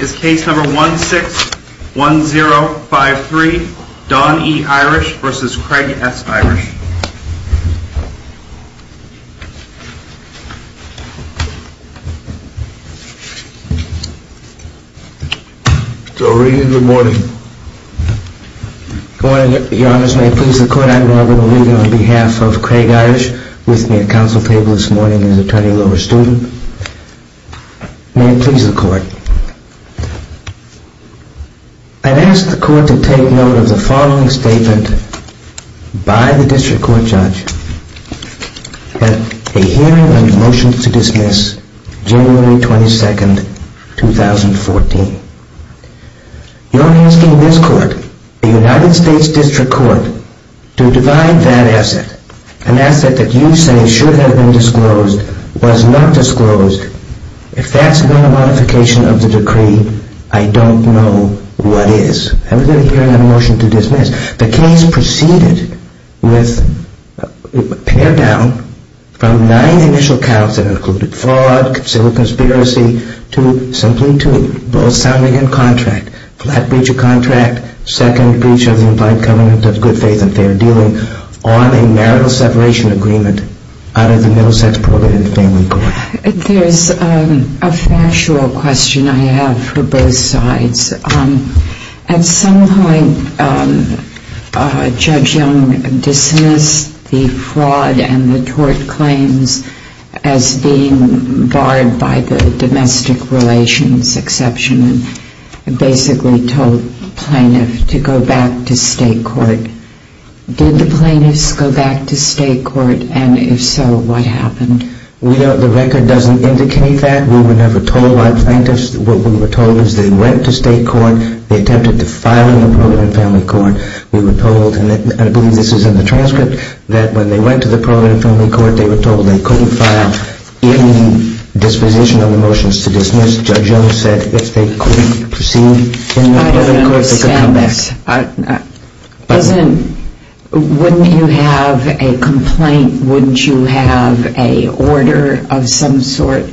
Is case number 161053, Don E. Irish v. Craig S. Irish. Good morning. Good morning, your honors. May it please the court, I'm Marvin O'Regan on behalf of Craig Irish, with me at council table this morning as attorney lower student. May it please the court, I'd ask the court to take note of the following statement by the district court judge at a hearing on a motion to dismiss January 22nd, 2014. You're asking this court, the United States District Court, to divide that asset, an asset that you say should have been disclosed, was not disclosed. If that's not a modification of the decree, I don't know what is. And we're going to hear that motion to dismiss. The case proceeded with, pared down from nine initial counts that included fraud, civil conspiracy, to simply two. Both sounding in contract, flat breach of contract, second breach of the implied covenant of good faith and fair dealing on a marital separation agreement out of the middle sex program in the family court. There's a factual question I have for both sides. At some point, Judge Young dismissed the fraud and the tort claims as being barred by the domestic relations exception and basically told plaintiff to go back to state court. Did the plaintiffs go back to state court? And if so, what happened? The record doesn't indicate that. We were never told by plaintiffs. What we were told is they went to state court. They attempted to file in the program in family court. We were told, and I believe this is in the transcript, that when they went to the program in family court, they were told they couldn't file any disposition of the motions to dismiss. Judge Young said if they couldn't proceed in the family court, they could come back. But wouldn't you have a complaint? Wouldn't you have an order of some sort?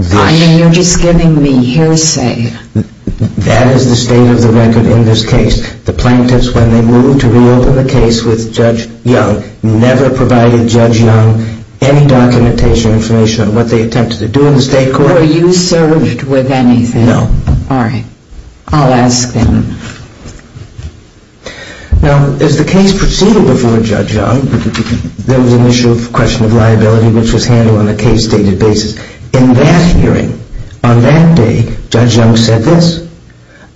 I mean, you're just giving me hearsay. That is the state of the record in this case. The plaintiffs, when they moved to reopen the case with Judge Young, never provided Judge Young any documentation or information on what they attempted to do in the state court. Were you served with anything? No. All right. I'll ask them. Now, as the case proceeded before Judge Young, there was an issue of question of liability which was handled on a case-stated basis. In that hearing, on that day, Judge Young said this.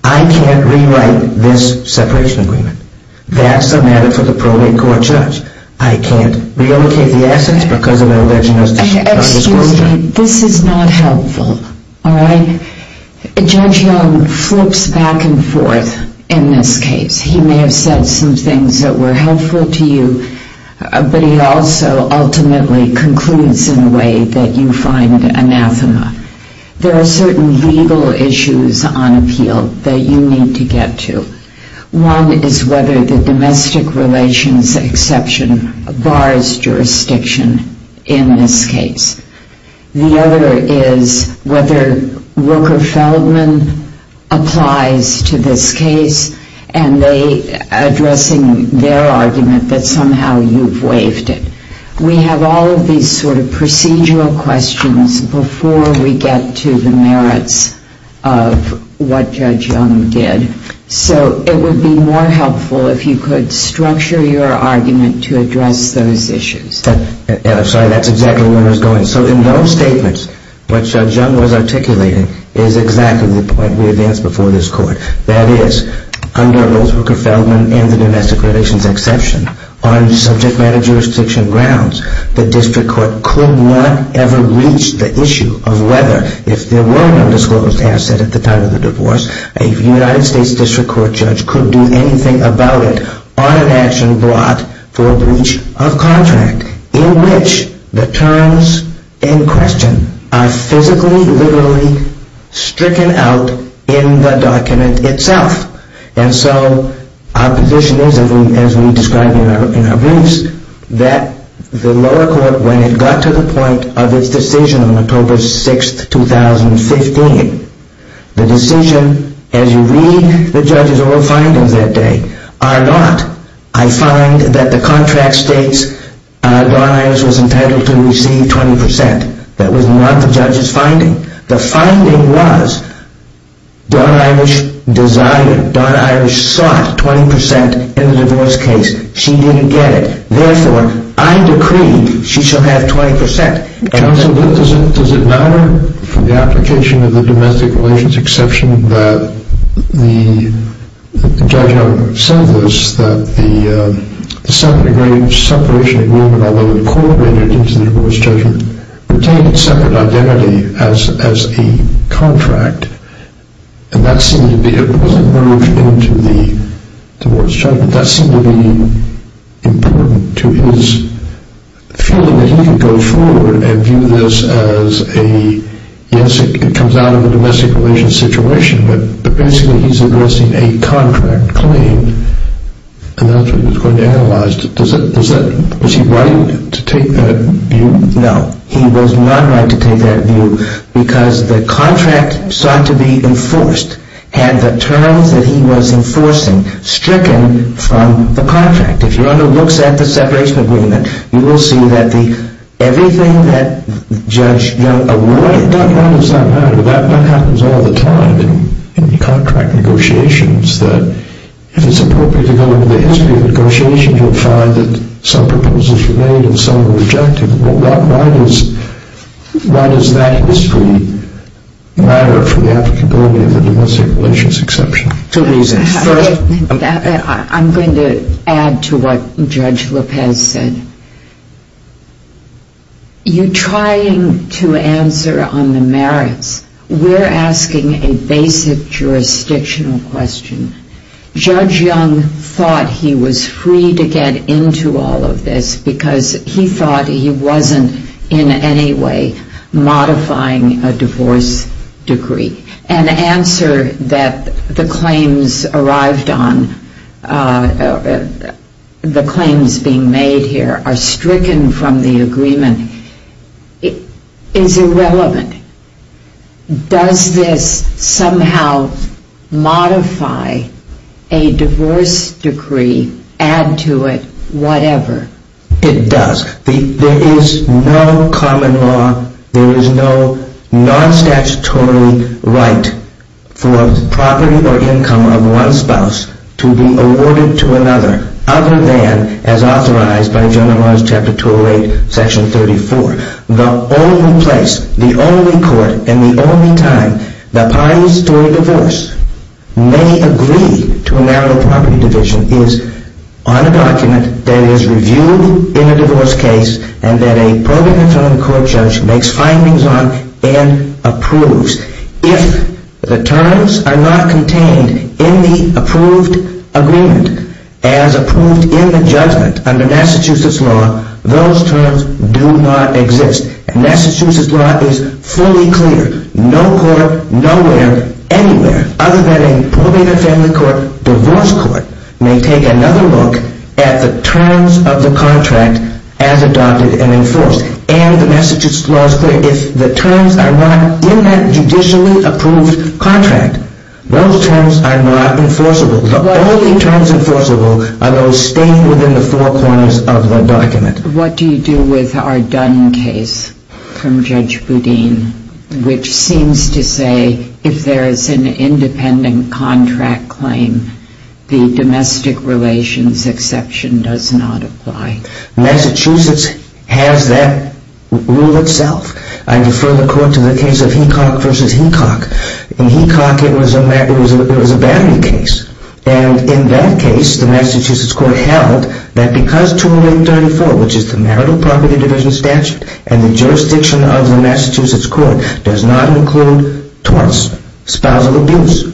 I can't rewrite this separation agreement. That's a matter for the probate court judge. I can't relocate the assets because of an alleged misdisclosure. This is not helpful. All right? Judge Young flips back and forth in this case. He may have said some things that were helpful to you, but he also ultimately concludes in a way that you find anathema. There are certain legal issues on appeal that you need to get to. One is whether the domestic relations exception bars jurisdiction in this case. The other is whether Rooker-Feldman applies to this case and they addressing their argument that somehow you've waived it. We have all of these sort of procedural questions before we get to the merits of what Judge Young did. So it would be more helpful if you could structure your argument to address those issues. I'm sorry, that's exactly where I was going. So in those statements, what Judge Young was articulating is exactly the point we advanced before this court. That is, under both Rooker-Feldman and the domestic relations exception, on subject matter jurisdiction grounds, the district court could not ever reach the issue of whether, if there were no disclosed asset at the time of the divorce, a United States district court judge could do anything about it on an action brought for a breach of contract, in which the terms in question are physically, literally stricken out in the document itself. And so our position is, as we described in our briefs, that the lower court, when it got to the point of its decision on October 6, 2015, the decision, as you read the judge's own findings that day, are not, I find that the contract states Don Ives was entitled to receive 20%. That was not the judge's finding. The finding was Don Ives desired, Don Ives sought 20% in the divorce case. She didn't get it. Therefore, I decree she shall have 20%. Counsel, does it matter from the application of the domestic relations exception that the Judge Young said this, that the separate separation agreement, although incorporated into the divorce judgment, retained separate identity as a contract, and that seemed to be, it wasn't merged into the divorce judgment, that seemed to be important to his feeling that he could go forward and view this as a, yes, it comes out of a domestic relations situation, but basically he's addressing a contract claim, and that's what he's going to analyze. Was he right to take that view? No, he was not right to take that view, because the contract sought to be enforced, and the terms that he was enforcing, stricken from the contract. If you look at the separation agreement, you will see that everything that Judge Young avoided. That does not matter. That happens all the time in contract negotiations, that if it's appropriate to go over the history of negotiations, you'll find that some proposals were made and some were rejected. Why does that history matter for the applicability of the domestic relations exception? Two reasons. I'm going to add to what Judge Lopez said. You're trying to answer on the merits. We're asking a basic jurisdictional question. Judge Young thought he was free to get into all of this because he thought he wasn't in any way modifying a divorce degree. An answer that the claims arrived on, the claims being made here are stricken from the agreement, is irrelevant. Does this somehow modify a divorce decree, add to it, whatever? It does. There is no common law, there is no non-statutory right for property or income of one spouse to be awarded to another, other than as authorized by General Laws Chapter 208, Section 34. The only place, the only court, and the only time that parties to a divorce may agree to a narrow property division is on a document that is reviewed in a divorce case and that a probate and family court judge makes findings on and approves. If the terms are not contained in the approved agreement as approved in the judgment under Massachusetts law, those terms do not exist. Massachusetts law is fully clear. No court, nowhere, anywhere, other than a probate and family court, divorce court, may take another look at the terms of the contract as adopted and enforced. And Massachusetts law is clear. If the terms are not in that judicially approved contract, those terms are not enforceable. The only terms enforceable are those stated within the four corners of the document. What do you do with our Dunn case from Judge Boudin, which seems to say if there is an independent contract claim, the domestic relations exception does not apply? Massachusetts has that rule itself. I defer the court to the case of Hecock v. Hecock. In Hecock, it was a battery case. And in that case, the Massachusetts court held that because 20834, which is the marital property division statute, and the jurisdiction of the Massachusetts court, does not include torts, spousal abuse,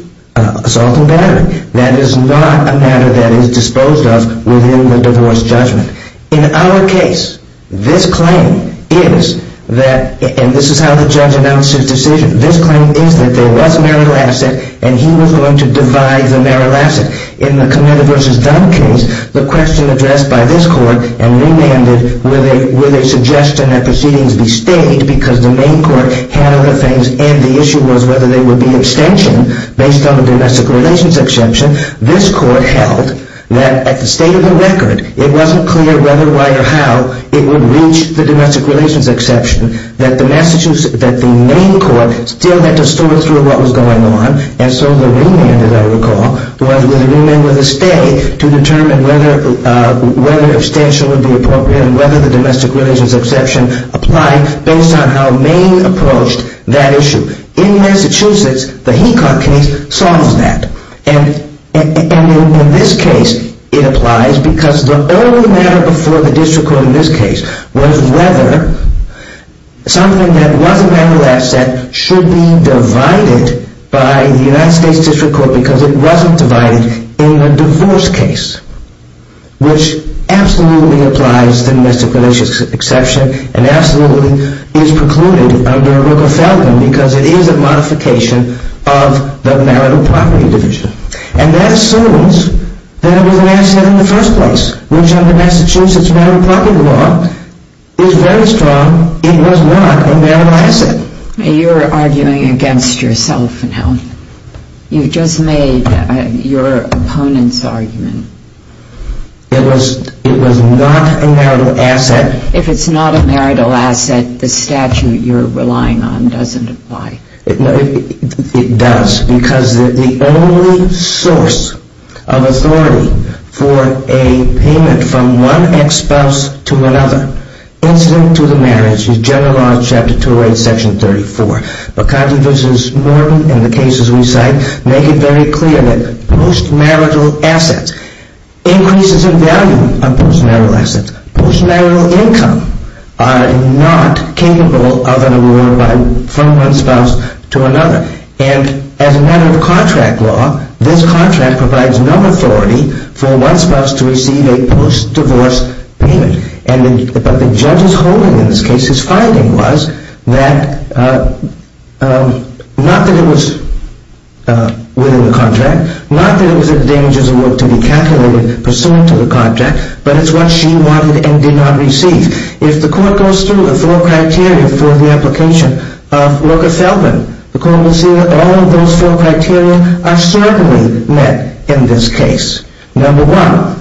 assault and battery, that is not a matter that is disposed of within the divorce judgment. In our case, this claim is that, and this is how the judge announced his decision, this claim is that there was a marital asset and he was going to divide the marital asset. In the Committer v. Dunn case, the question addressed by this court and remanded, were they suggesting that proceedings be stayed because the main court handled the things and the issue was whether there would be an extension based on the domestic relations exception, this court held that at the state of the record, it wasn't clear whether, why, or how it would reach the domestic relations exception, that the main court still had to sort through what was going on. And so the remand, as I recall, was a remand with a stay to determine whether an extension would be appropriate and whether the domestic relations exception applied based on how Maine approached that issue. In Massachusetts, the Hecock case solves that. And in this case, it applies because the only matter before the district court in this case was whether something that was a marital asset should be divided by the United States district court because it wasn't divided in the divorce case. Which absolutely applies the domestic relations exception and absolutely is precluded under Rooker-Feldman because it is a modification of the marital property division. And that assumes that it was an asset in the first place, which under Massachusetts marital property law is very strong, it was not a marital asset. You're arguing against yourself now. You've just made your opponent's argument. It was not a marital asset. If it's not a marital asset, the statute you're relying on doesn't apply. It does because the only source of authority for a payment from one ex-spouse to another incident to the marriage is general law chapter 2 section 34. McCarty v. Norton and the cases we cite make it very clear that post-marital assets, increases in value of post-marital assets, post-marital income are not capable of an award from one spouse to another. And as a matter of contract law, this contract provides no authority for one spouse to receive a post-divorce payment. But the judge's holding in this case, his finding was that not that it was within the contract, not that it was a dangerous award to be calculated pursuant to the contract, but it's what she wanted and did not receive. If the court goes through the four criteria for the application of Rooker-Feldman, the court will see that all of those four criteria are certainly met in this case. Number one,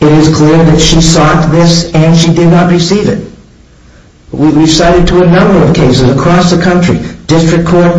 it is clear that she sought this and she did not receive it. We've cited to a number of cases across the country, district court,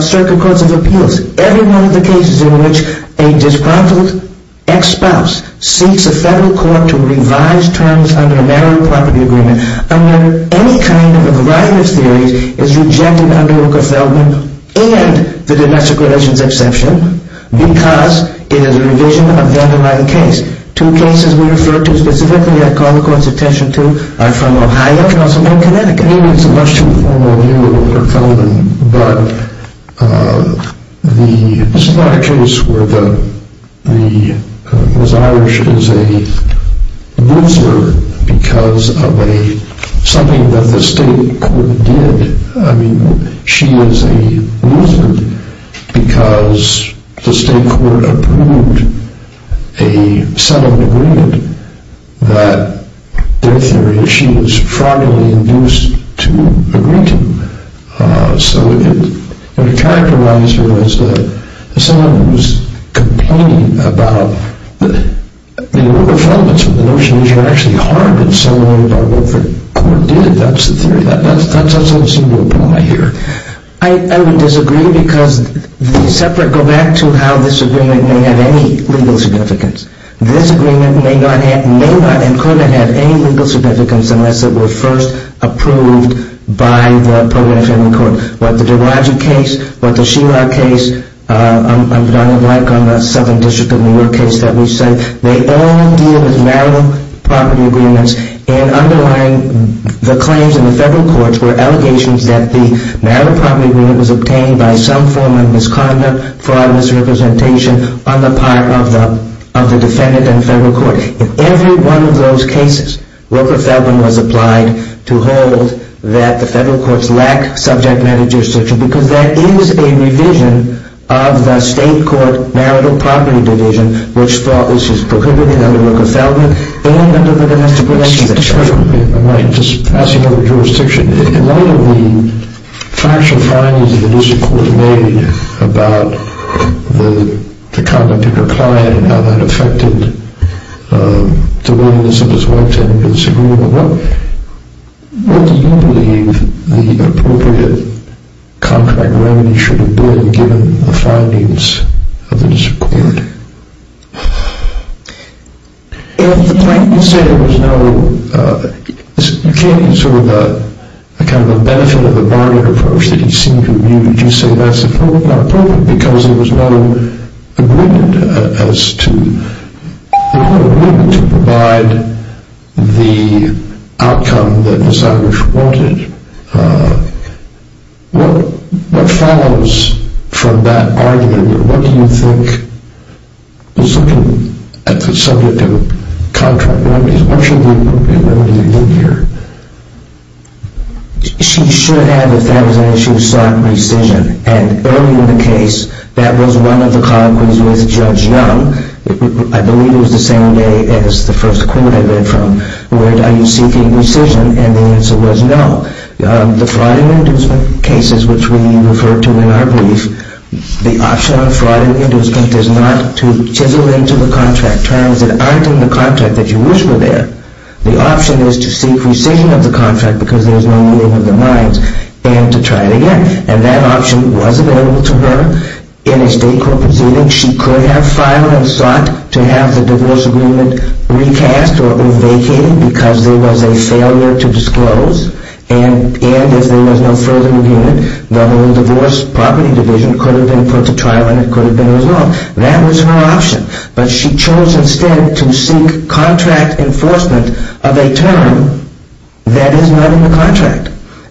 circuit courts of appeals, every one of the cases in which a disgruntled ex-spouse seeks a federal court to revise terms under a marital property agreement, under any kind of a variety of theories is rejected under Rooker-Feldman and the domestic relations exception because it is a revision of the underlying case. Two cases we refer to specifically that I call the court's attention to are from Ohio and Connecticut. I think it's a much too formal view of Rooker-Feldman, but this is not a case where the Miss Irish is a loser because of something that the state court did. I mean, she is a loser because the state court approved a settlement agreement that their theory is she was fraudulently induced to agree to. So it characterized her as someone who was complaining about the Rooker-Feldman's with the notion that she was actually harmed in some way by what the court did. That's the theory. That doesn't seem to apply here. I would disagree because these separate go back to how this agreement may have any legal significance. This agreement may not and could not have any legal significance unless it were first approved by the program family court. What the DeRoge case, what the Sheelock case, I'm like on the Southern District of New York case that we said, they all deal with marital property agreements and underlying the claims in the federal courts were allegations that the marital property agreement was obtained by some form of misconduct, fraud, misrepresentation on the part of the defendant and federal court. In every one of those cases, Rooker-Feldman was applied to hold that the federal courts lack subject matter jurisdiction because that is a revision of the state court marital property division, which thought this was prohibited under Rooker-Feldman and under the domestic relations act. Just passing over jurisdiction. In light of the factual findings of the district court made about the conduct of your client and how that affected the willingness of his wife to enter into this agreement, what do you believe the appropriate contract remedy should have been given the findings of the district court? If the plaintiff said there was no, you can't use sort of a benefit of the bargain approach that you seem to have used. You say that's not appropriate because there was no agreement as to, there was no agreement to provide the outcome that Miss Eilish wanted. What follows from that argument? What do you think is looking at the subject of contract remedies? What should be the appropriate remedy in here? She should have, if that was an issue, sought rescission. And earlier in the case, that was one of the colloquies with Judge Young. I believe it was the same day as the first quote I read from, and the answer was no. The fraud and inducement cases, which we refer to in our brief, the option of fraud and inducement is not to chisel into the contract, trials that aren't in the contract that you wish were there. The option is to seek rescission of the contract because there is no meeting of the minds and to try it again. And that option was available to her in a state court proceeding. She could have filed and sought to have the divorce agreement recast or vacated because there was a failure to disclose. And if there was no further agreement, the whole divorce property division could have been put to trial and it could have been resolved. That was her option. But she chose instead to seek contract enforcement of a term that is not in the contract.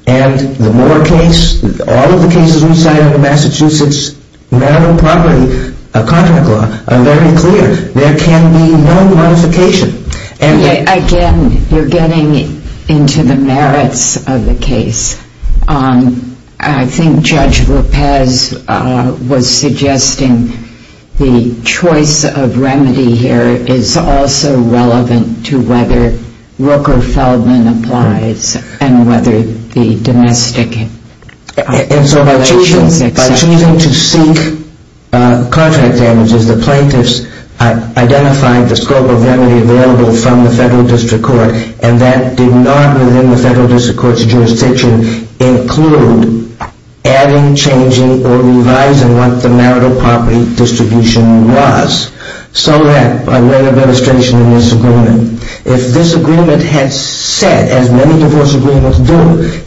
And the Moore case, all of the cases we cited in Massachusetts, medical property, a contract law, are very clear. There can be no modification. Again, you're getting into the merits of the case. I think Judge Lopez was suggesting the choice of remedy here is also relevant to whether Rook or Feldman applies and whether the domestic violations exist. And so by choosing to seek contract damages, the plaintiffs identified the scope of remedy available from the federal district court and that did not, within the federal district court's jurisdiction, include adding, changing, or revising what the marital property distribution was so that by way of registration in this agreement, if this agreement had said, as many divorce agreements do,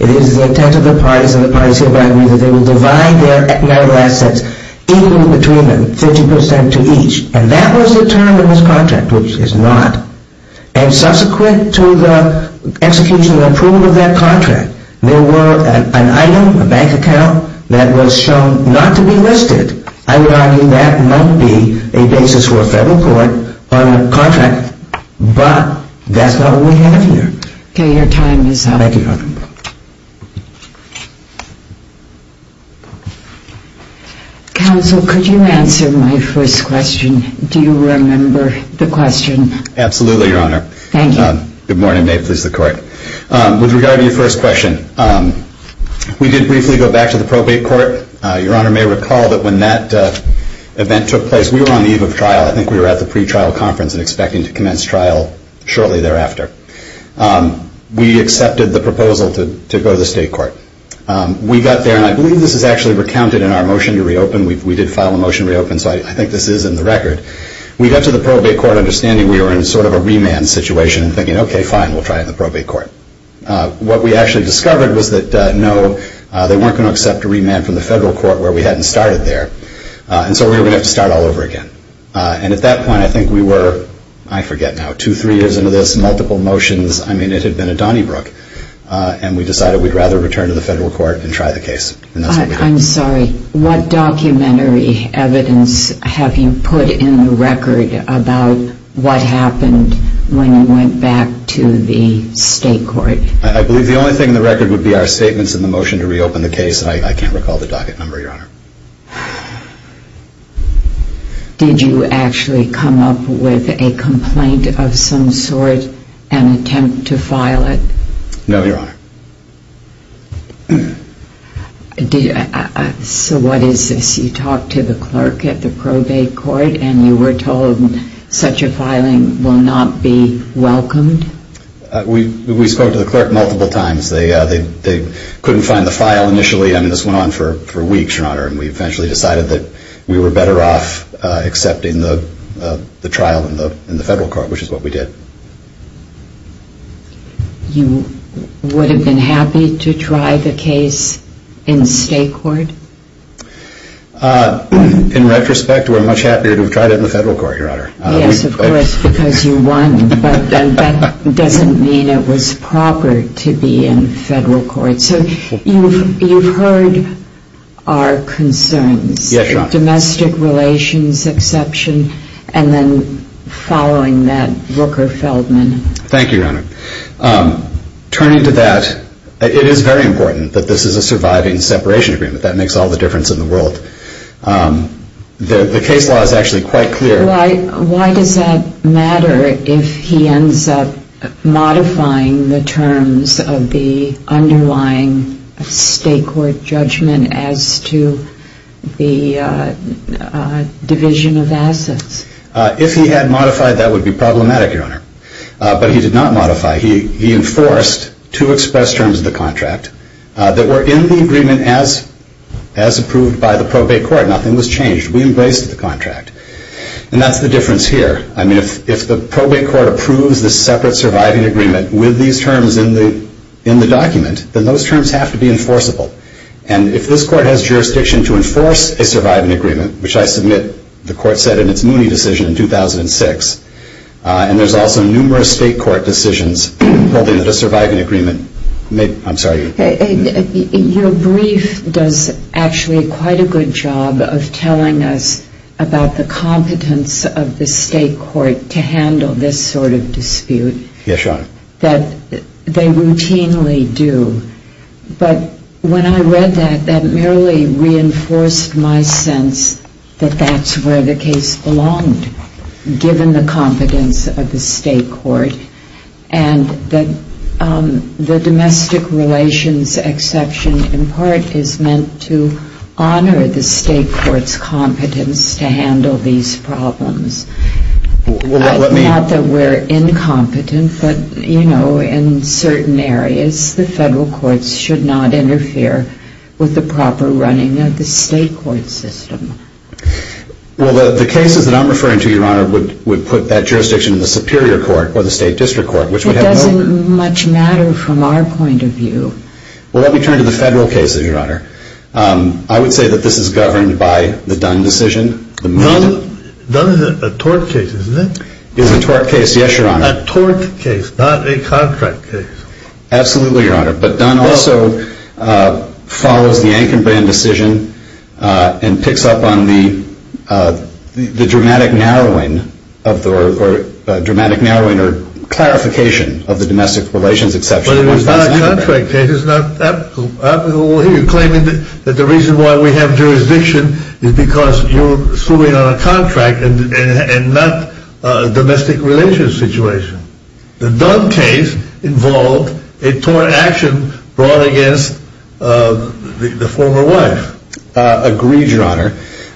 it is the intent of the parties and the parties hereby agree that they will divide their marital assets equally between them, 50% to each. And that was the term in this contract, which is not. And subsequent to the execution and approval of that contract, there were an item, a bank account, that was shown not to be listed. I would argue that might be a basis for a federal court on a contract, but that's not what we have here. Okay, your time is up. Thank you, Your Honor. Counsel, could you answer my first question? Do you remember the question? Absolutely, Your Honor. Thank you. Good morning. May it please the Court. With regard to your first question, we did briefly go back to the probate court. Your Honor may recall that when that event took place, we were on the eve of trial. I think we were at the pretrial conference and expecting to commence trial shortly thereafter. We accepted the proposal to go to the state court. We got there, and I believe this is actually recounted in our motion to reopen. We did file a motion to reopen, so I think this is in the record. We got to the probate court understanding we were in sort of a remand situation and thinking, okay, fine, we'll try it in the probate court. What we actually discovered was that, no, they weren't going to accept a remand from the federal court where we hadn't started there. And so we were going to have to start all over again. And at that point, I think we were, I forget now, two, three years into this, multiple motions. I mean, it had been a Donnybrook. And we decided we'd rather return to the federal court and try the case. And that's what we did. I'm sorry. What documentary evidence have you put in the record about what happened when you went back to the state court? I believe the only thing in the record would be our statements in the motion to reopen the case. I can't recall the docket number, Your Honor. Did you actually come up with a complaint of some sort and attempt to file it? No, Your Honor. So what is this? You talked to the clerk at the probate court, and you were told such a filing will not be welcomed? We spoke to the clerk multiple times. They couldn't find the file initially. I mean, this went on for weeks, Your Honor. And we eventually decided that we were better off accepting the trial in the federal court, which is what we did. You would have been happy to try the case in state court? In retrospect, we're much happier to have tried it in the federal court, Your Honor. Yes, of course, because you won. But that doesn't mean it was proper to be in federal court. So you've heard our concerns. Yes, Your Honor. Domestic relations exception. And then following that, Rooker-Feldman. Thank you, Your Honor. Turning to that, it is very important that this is a surviving separation agreement. That makes all the difference in the world. The case law is actually quite clear. Why does that matter if he ends up modifying the terms of the underlying state court judgment as to the division of assets? If he had modified, that would be problematic, Your Honor. But he did not modify. He enforced two express terms of the contract that were in the agreement as approved by the probate court. Nothing was changed. We embraced the contract. And that's the difference here. I mean, if the probate court approves the separate surviving agreement with these terms in the document, then those terms have to be enforceable. And if this court has jurisdiction to enforce a surviving agreement, which I submit the court said in its Mooney decision in 2006, and there's also numerous state court decisions holding that a surviving agreement may – I'm sorry. Your brief does actually quite a good job of telling us about the competence of the state court to handle this sort of dispute. Yes, Your Honor. That they routinely do. But when I read that, that merely reinforced my sense that that's where the case belonged, given the competence of the state court, and that the domestic relations exception in part is meant to honor the state court's competence to handle these problems. Not that we're incompetent, but, you know, in certain areas, the federal courts should not interfere with the proper running of the state court system. Well, the cases that I'm referring to, Your Honor, would put that jurisdiction in the superior court or the state district court, which would have no – It doesn't much matter from our point of view. Well, let me turn to the federal cases, Your Honor. I would say that this is governed by the Dunn decision. Dunn is a tort case, isn't it? It's a tort case, yes, Your Honor. A tort case, not a contract case. Absolutely, Your Honor. But Dunn also follows the Ankenbrand decision and picks up on the dramatic narrowing or clarification of the domestic relations exception. But it was not a contract case. You're claiming that the reason why we have jurisdiction is because you're suing on a contract and not a domestic relations situation. The Dunn case involved a tort action brought against the former wife. Agreed, Your Honor.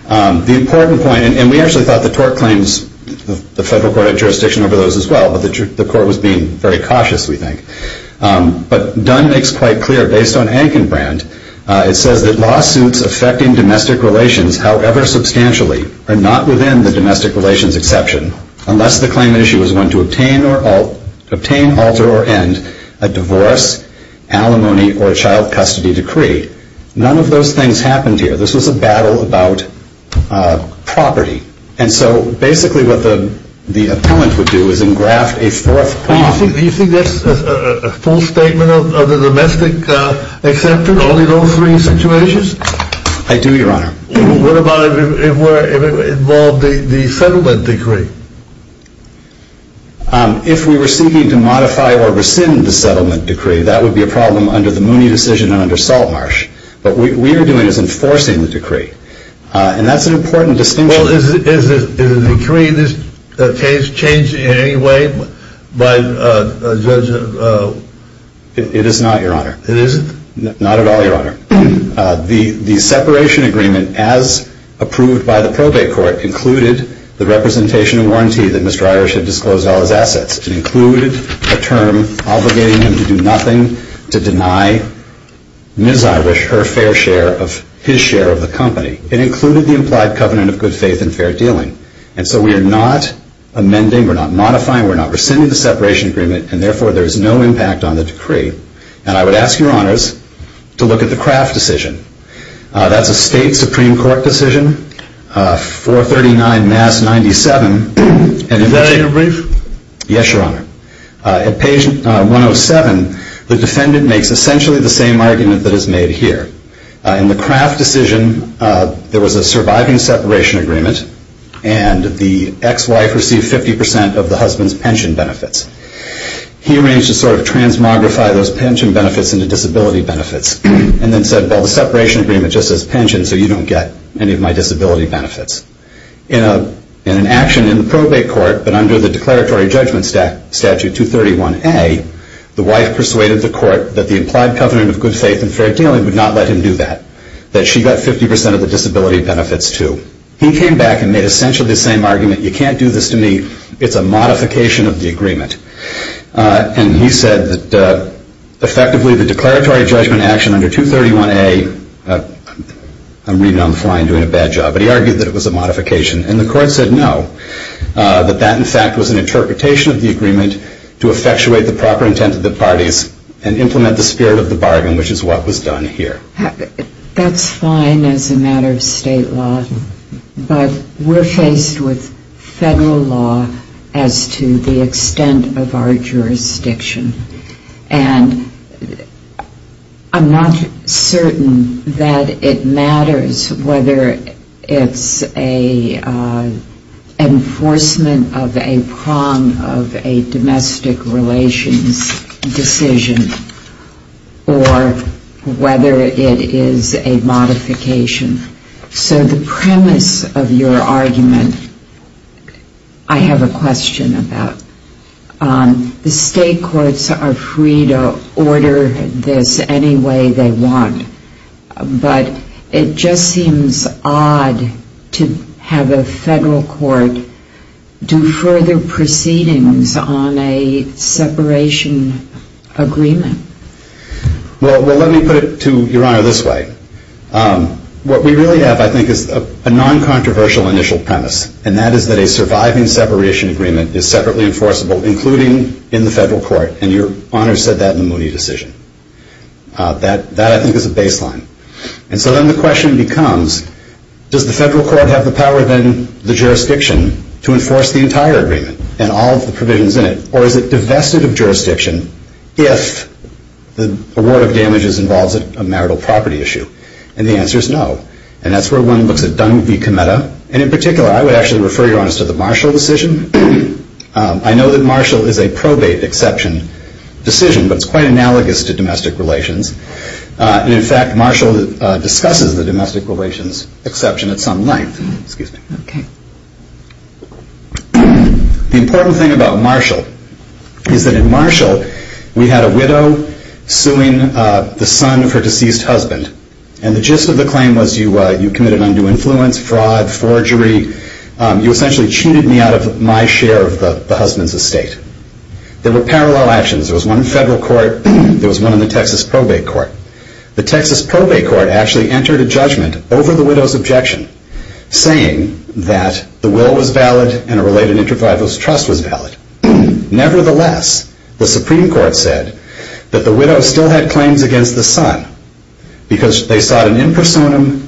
The important point, and we actually thought the tort claims, the federal court had jurisdiction over those as well, but the court was being very cautious, we think. But Dunn makes quite clear, based on Ankenbrand, it says that lawsuits affecting domestic relations, however substantially, are not within the domestic relations exception unless the claimant issue is one to obtain, alter, or end a divorce, alimony, or child custody decree. None of those things happened here. This was a battle about property. And so basically what the appellant would do is engraft a fourth clause. Do you think that's a full statement of the domestic exception? Only those three situations? I do, Your Honor. What about if it involved the settlement decree? If we were seeking to modify or rescind the settlement decree, that would be a problem under the Mooney decision and under Saltmarsh. What we are doing is enforcing the decree. And that's an important distinction. Well, is the decree in this case changed in any way by Judge? It is not, Your Honor. It isn't? Not at all, Your Honor. The separation agreement, as approved by the probate court, included the representation and warranty that Mr. Irish had disclosed all his assets. It included a term obligating him to do nothing to deny Ms. Irish her fair share of his share of the company. It included the implied covenant of good faith and fair dealing. And so we are not amending, we're not modifying, we're not rescinding the separation agreement, and therefore there is no impact on the decree. And I would ask Your Honors to look at the Kraft decision. That's a state Supreme Court decision, 439 Mass 97. Is that in your brief? Yes, Your Honor. At page 107, the defendant makes essentially the same argument that is made here. In the Kraft decision, there was a surviving separation agreement, and the ex-wife received 50% of the husband's pension benefits. He arranged to sort of transmogrify those pension benefits into disability benefits and then said, well, the separation agreement just says pension, so you don't get any of my disability benefits. In an action in the probate court, but under the declaratory judgment statute 231A, the wife persuaded the court that the implied covenant of good faith and fair dealing would not let him do that, that she got 50% of the disability benefits too. He came back and made essentially the same argument, you can't do this to me, it's a modification of the agreement. And he said that effectively the declaratory judgment action under 231A, I'm reading it on the fly and doing a bad job, but he argued that it was a modification. And the court said no, that that in fact was an interpretation of the agreement to effectuate the proper intent of the parties and implement the spirit of the bargain, which is what was done here. That's fine as a matter of state law, but we're faced with federal law as to the extent of our jurisdiction. And I'm not certain that it matters whether it's an enforcement of a prom of a domestic relations decision or whether it is a modification. So the premise of your argument, I have a question about. The state courts are free to order this any way they want, but it just seems odd to have a federal court do further proceedings on a separation agreement. Well, let me put it to Your Honor this way. What we really have I think is a non-controversial initial premise, and that is that a surviving separation agreement is separately enforceable, including in the federal court, and Your Honor said that in the Moody decision. That I think is a baseline. And so then the question becomes, does the federal court have the power then, the jurisdiction, to enforce the entire agreement and all of the provisions in it, or is it divested of jurisdiction if the award of damages involves a marital property issue? And the answer is no. And that's where one looks at Dung v. Cometa, and in particular I would actually refer Your Honor to the Marshall decision. I know that Marshall is a probate exception decision, but it's quite analogous to domestic relations. In fact, Marshall discusses the domestic relations exception at some length. The important thing about Marshall is that in Marshall, we had a widow suing the son of her deceased husband, and the gist of the claim was you committed undue influence, fraud, forgery. You essentially cheated me out of my share of the husband's estate. There were parallel actions. There was one in federal court. There was one in the Texas probate court. The Texas probate court actually entered a judgment over the widow's objection, saying that the will was valid and a related intervivalist trust was valid. Nevertheless, the Supreme Court said that the widow still had claims against the son because they sought an in personam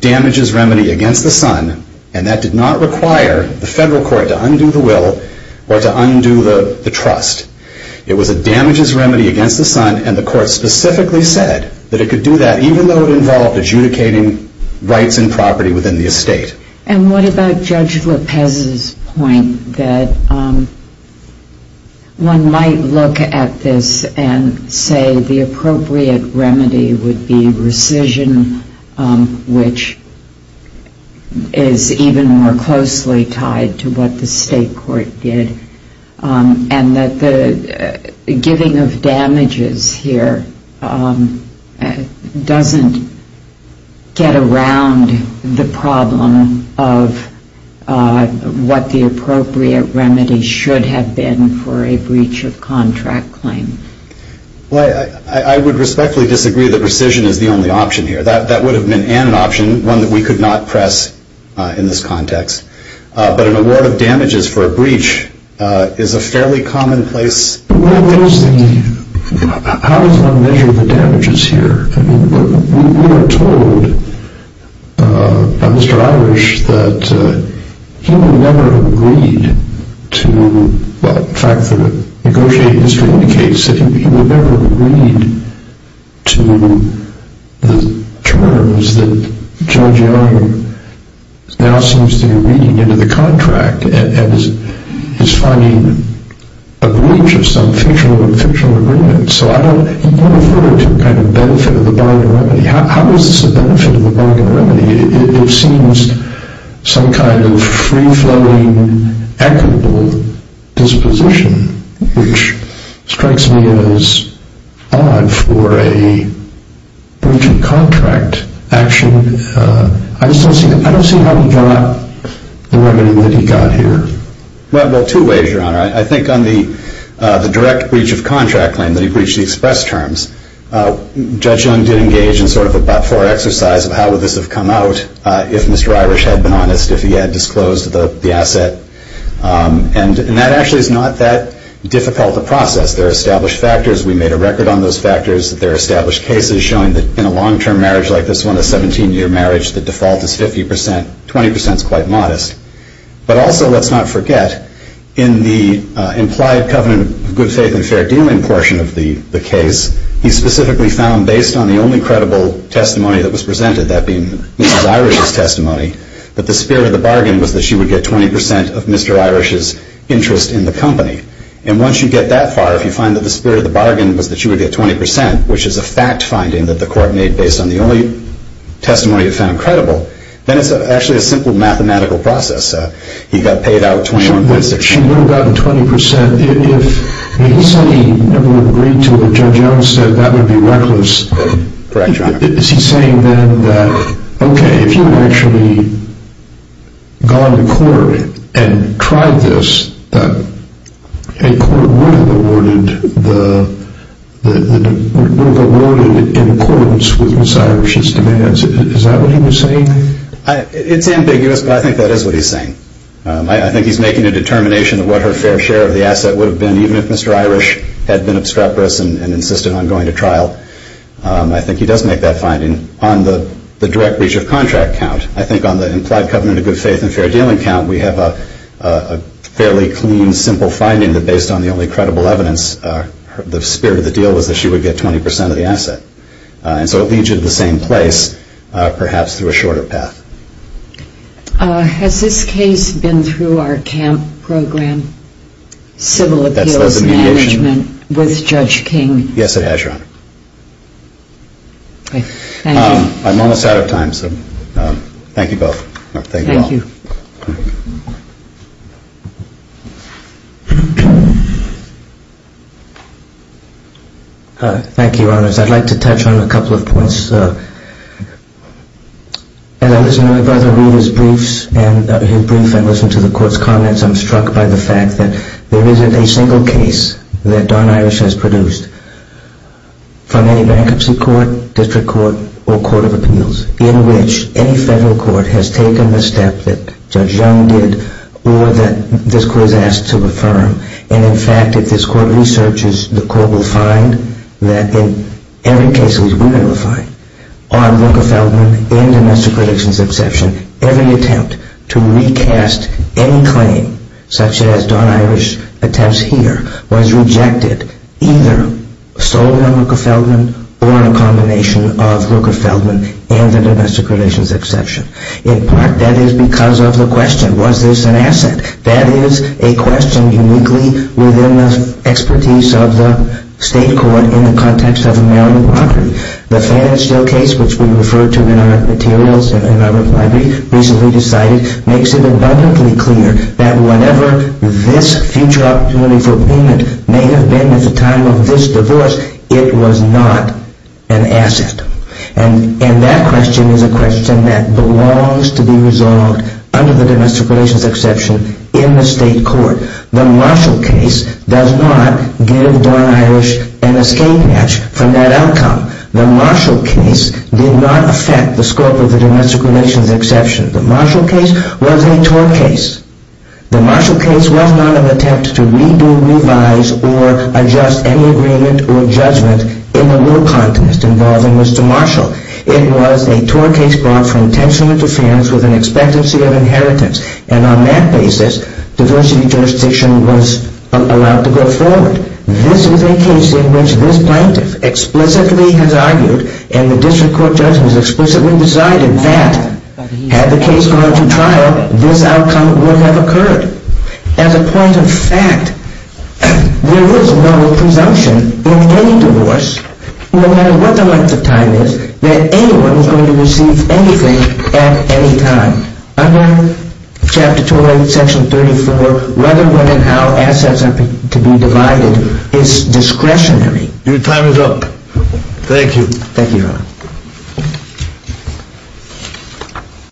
damages remedy against the son, and that did not require the federal court to undo the will or to undo the trust. It was a damages remedy against the son, and the court specifically said that it could do that even though it involved adjudicating rights and property within the estate. And what about Judge Lopez's point that one might look at this and say the appropriate remedy would be rescission, which is even more closely tied to what the state court did, and that the giving of damages here doesn't get around the problem of what the appropriate remedy should have been for a breach of contract claim? Well, I would respectfully disagree that rescission is the only option here. That would have been an option, one that we could not press in this context. But an award of damages for a breach is a fairly commonplace thing. How does one measure the damages here? We were told by Mr. Irish that he would never agree to, well, in fact the negotiated history indicates that he would never agree to the terms that Judge Young now seems to be reading into the contract and is finding a breach of some fictional agreement. So I don't know if he referred to a benefit of the bargain remedy. How is this a benefit of the bargain remedy? It seems some kind of free-flowing, equitable disposition, which strikes me as odd for a breach of contract action. I just don't see how he brought up the remedy that he got here. Well, two ways, Your Honor. I think on the direct breach of contract claim that he breached the express terms, Judge Young did engage in sort of a fore-exercise of how would this have come out if Mr. Irish had been honest, if he had disclosed the asset. And that actually is not that difficult a process. There are established factors. We made a record on those factors. There are established cases showing that in a long-term marriage like this one, a 17-year marriage, the default is 50%. 20% is quite modest. But also let's not forget in the implied covenant of good faith and fair dealing portion of the case, he specifically found based on the only credible testimony that was presented, that being Mr. Irish's testimony, that the spirit of the bargain was that she would get 20% of Mr. Irish's interest in the company. And once you get that far, if you find that the spirit of the bargain was that she would get 20%, which is a fact finding that the court made based on the only testimony it found credible, then it's actually a simple mathematical process. He got paid out 21%. She would have gotten 20% if he said he never would have agreed to it. Judge Young said that would be reckless. Correct, John. Is he saying then that, okay, if you had actually gone to court and tried this, a court would have awarded in accordance with Ms. Irish's demands. Is that what he was saying? It's ambiguous, but I think that is what he's saying. I think he's making a determination of what her fair share of the asset would have been even if Mr. Irish had been obstreperous and insisted on going to trial. I think he does make that finding on the direct breach of contract count. I think on the implied covenant of good faith and fair dealing count, we have a fairly clean, simple finding that based on the only credible evidence, the spirit of the deal was that she would get 20% of the asset. And so it leads you to the same place, perhaps through a shorter path. Has this case been through our CAMP program, Civil Appeals Management, with Judge King? Yes, it has, Your Honor. Thank you. I'm almost out of time, so thank you both. Thank you. Thank you, Your Honors. I'd like to touch on a couple of points. As I listen to my brother read his briefs and listen to the Court's comments, I'm struck by the fact that there isn't a single case that Don Irish has produced from any bankruptcy court, district court, or court of appeals in which any federal court has taken the step to that Judge Young did or that this Court has asked to affirm. And, in fact, if this Court researches, the Court will find that in every case we will find, on Rooker-Feldman and domestic relations exception, every attempt to recast any claim, such as Don Irish's attempts here, was rejected, either solely on Rooker-Feldman or a combination of Rooker-Feldman and the domestic relations exception. In part, that is because of the question, was this an asset? That is a question uniquely within the expertise of the State Court in the context of a Maryland property. The Fannin Steel case, which we referred to in our materials and in our reply brief, recently decided makes it abundantly clear that whatever this future opportunity for payment may have been at the time of this divorce, it was not an asset. And that question is a question that belongs to be resolved under the domestic relations exception in the State Court. The Marshall case does not give Don Irish an escape hatch from that outcome. The Marshall case did not affect the scope of the domestic relations exception. The Marshall case was a tort case. The Marshall case was not an attempt to redo, revise, or adjust any agreement or judgment in the little context involving Mr. Marshall. It was a tort case brought for intentional interference with an expectancy of inheritance. And on that basis, diversity jurisdiction was allowed to go forward. This is a case in which this plaintiff explicitly has argued and the district court judge has explicitly decided that had the case gone to trial, this outcome would have occurred. As a point of fact, there is no presumption in any divorce, no matter what the length of time is, that anyone is going to receive anything at any time. Under Chapter 208, Section 34, whether women have assets to be divided is discretionary. Your time is up. Thank you. Thank you, Your Honor.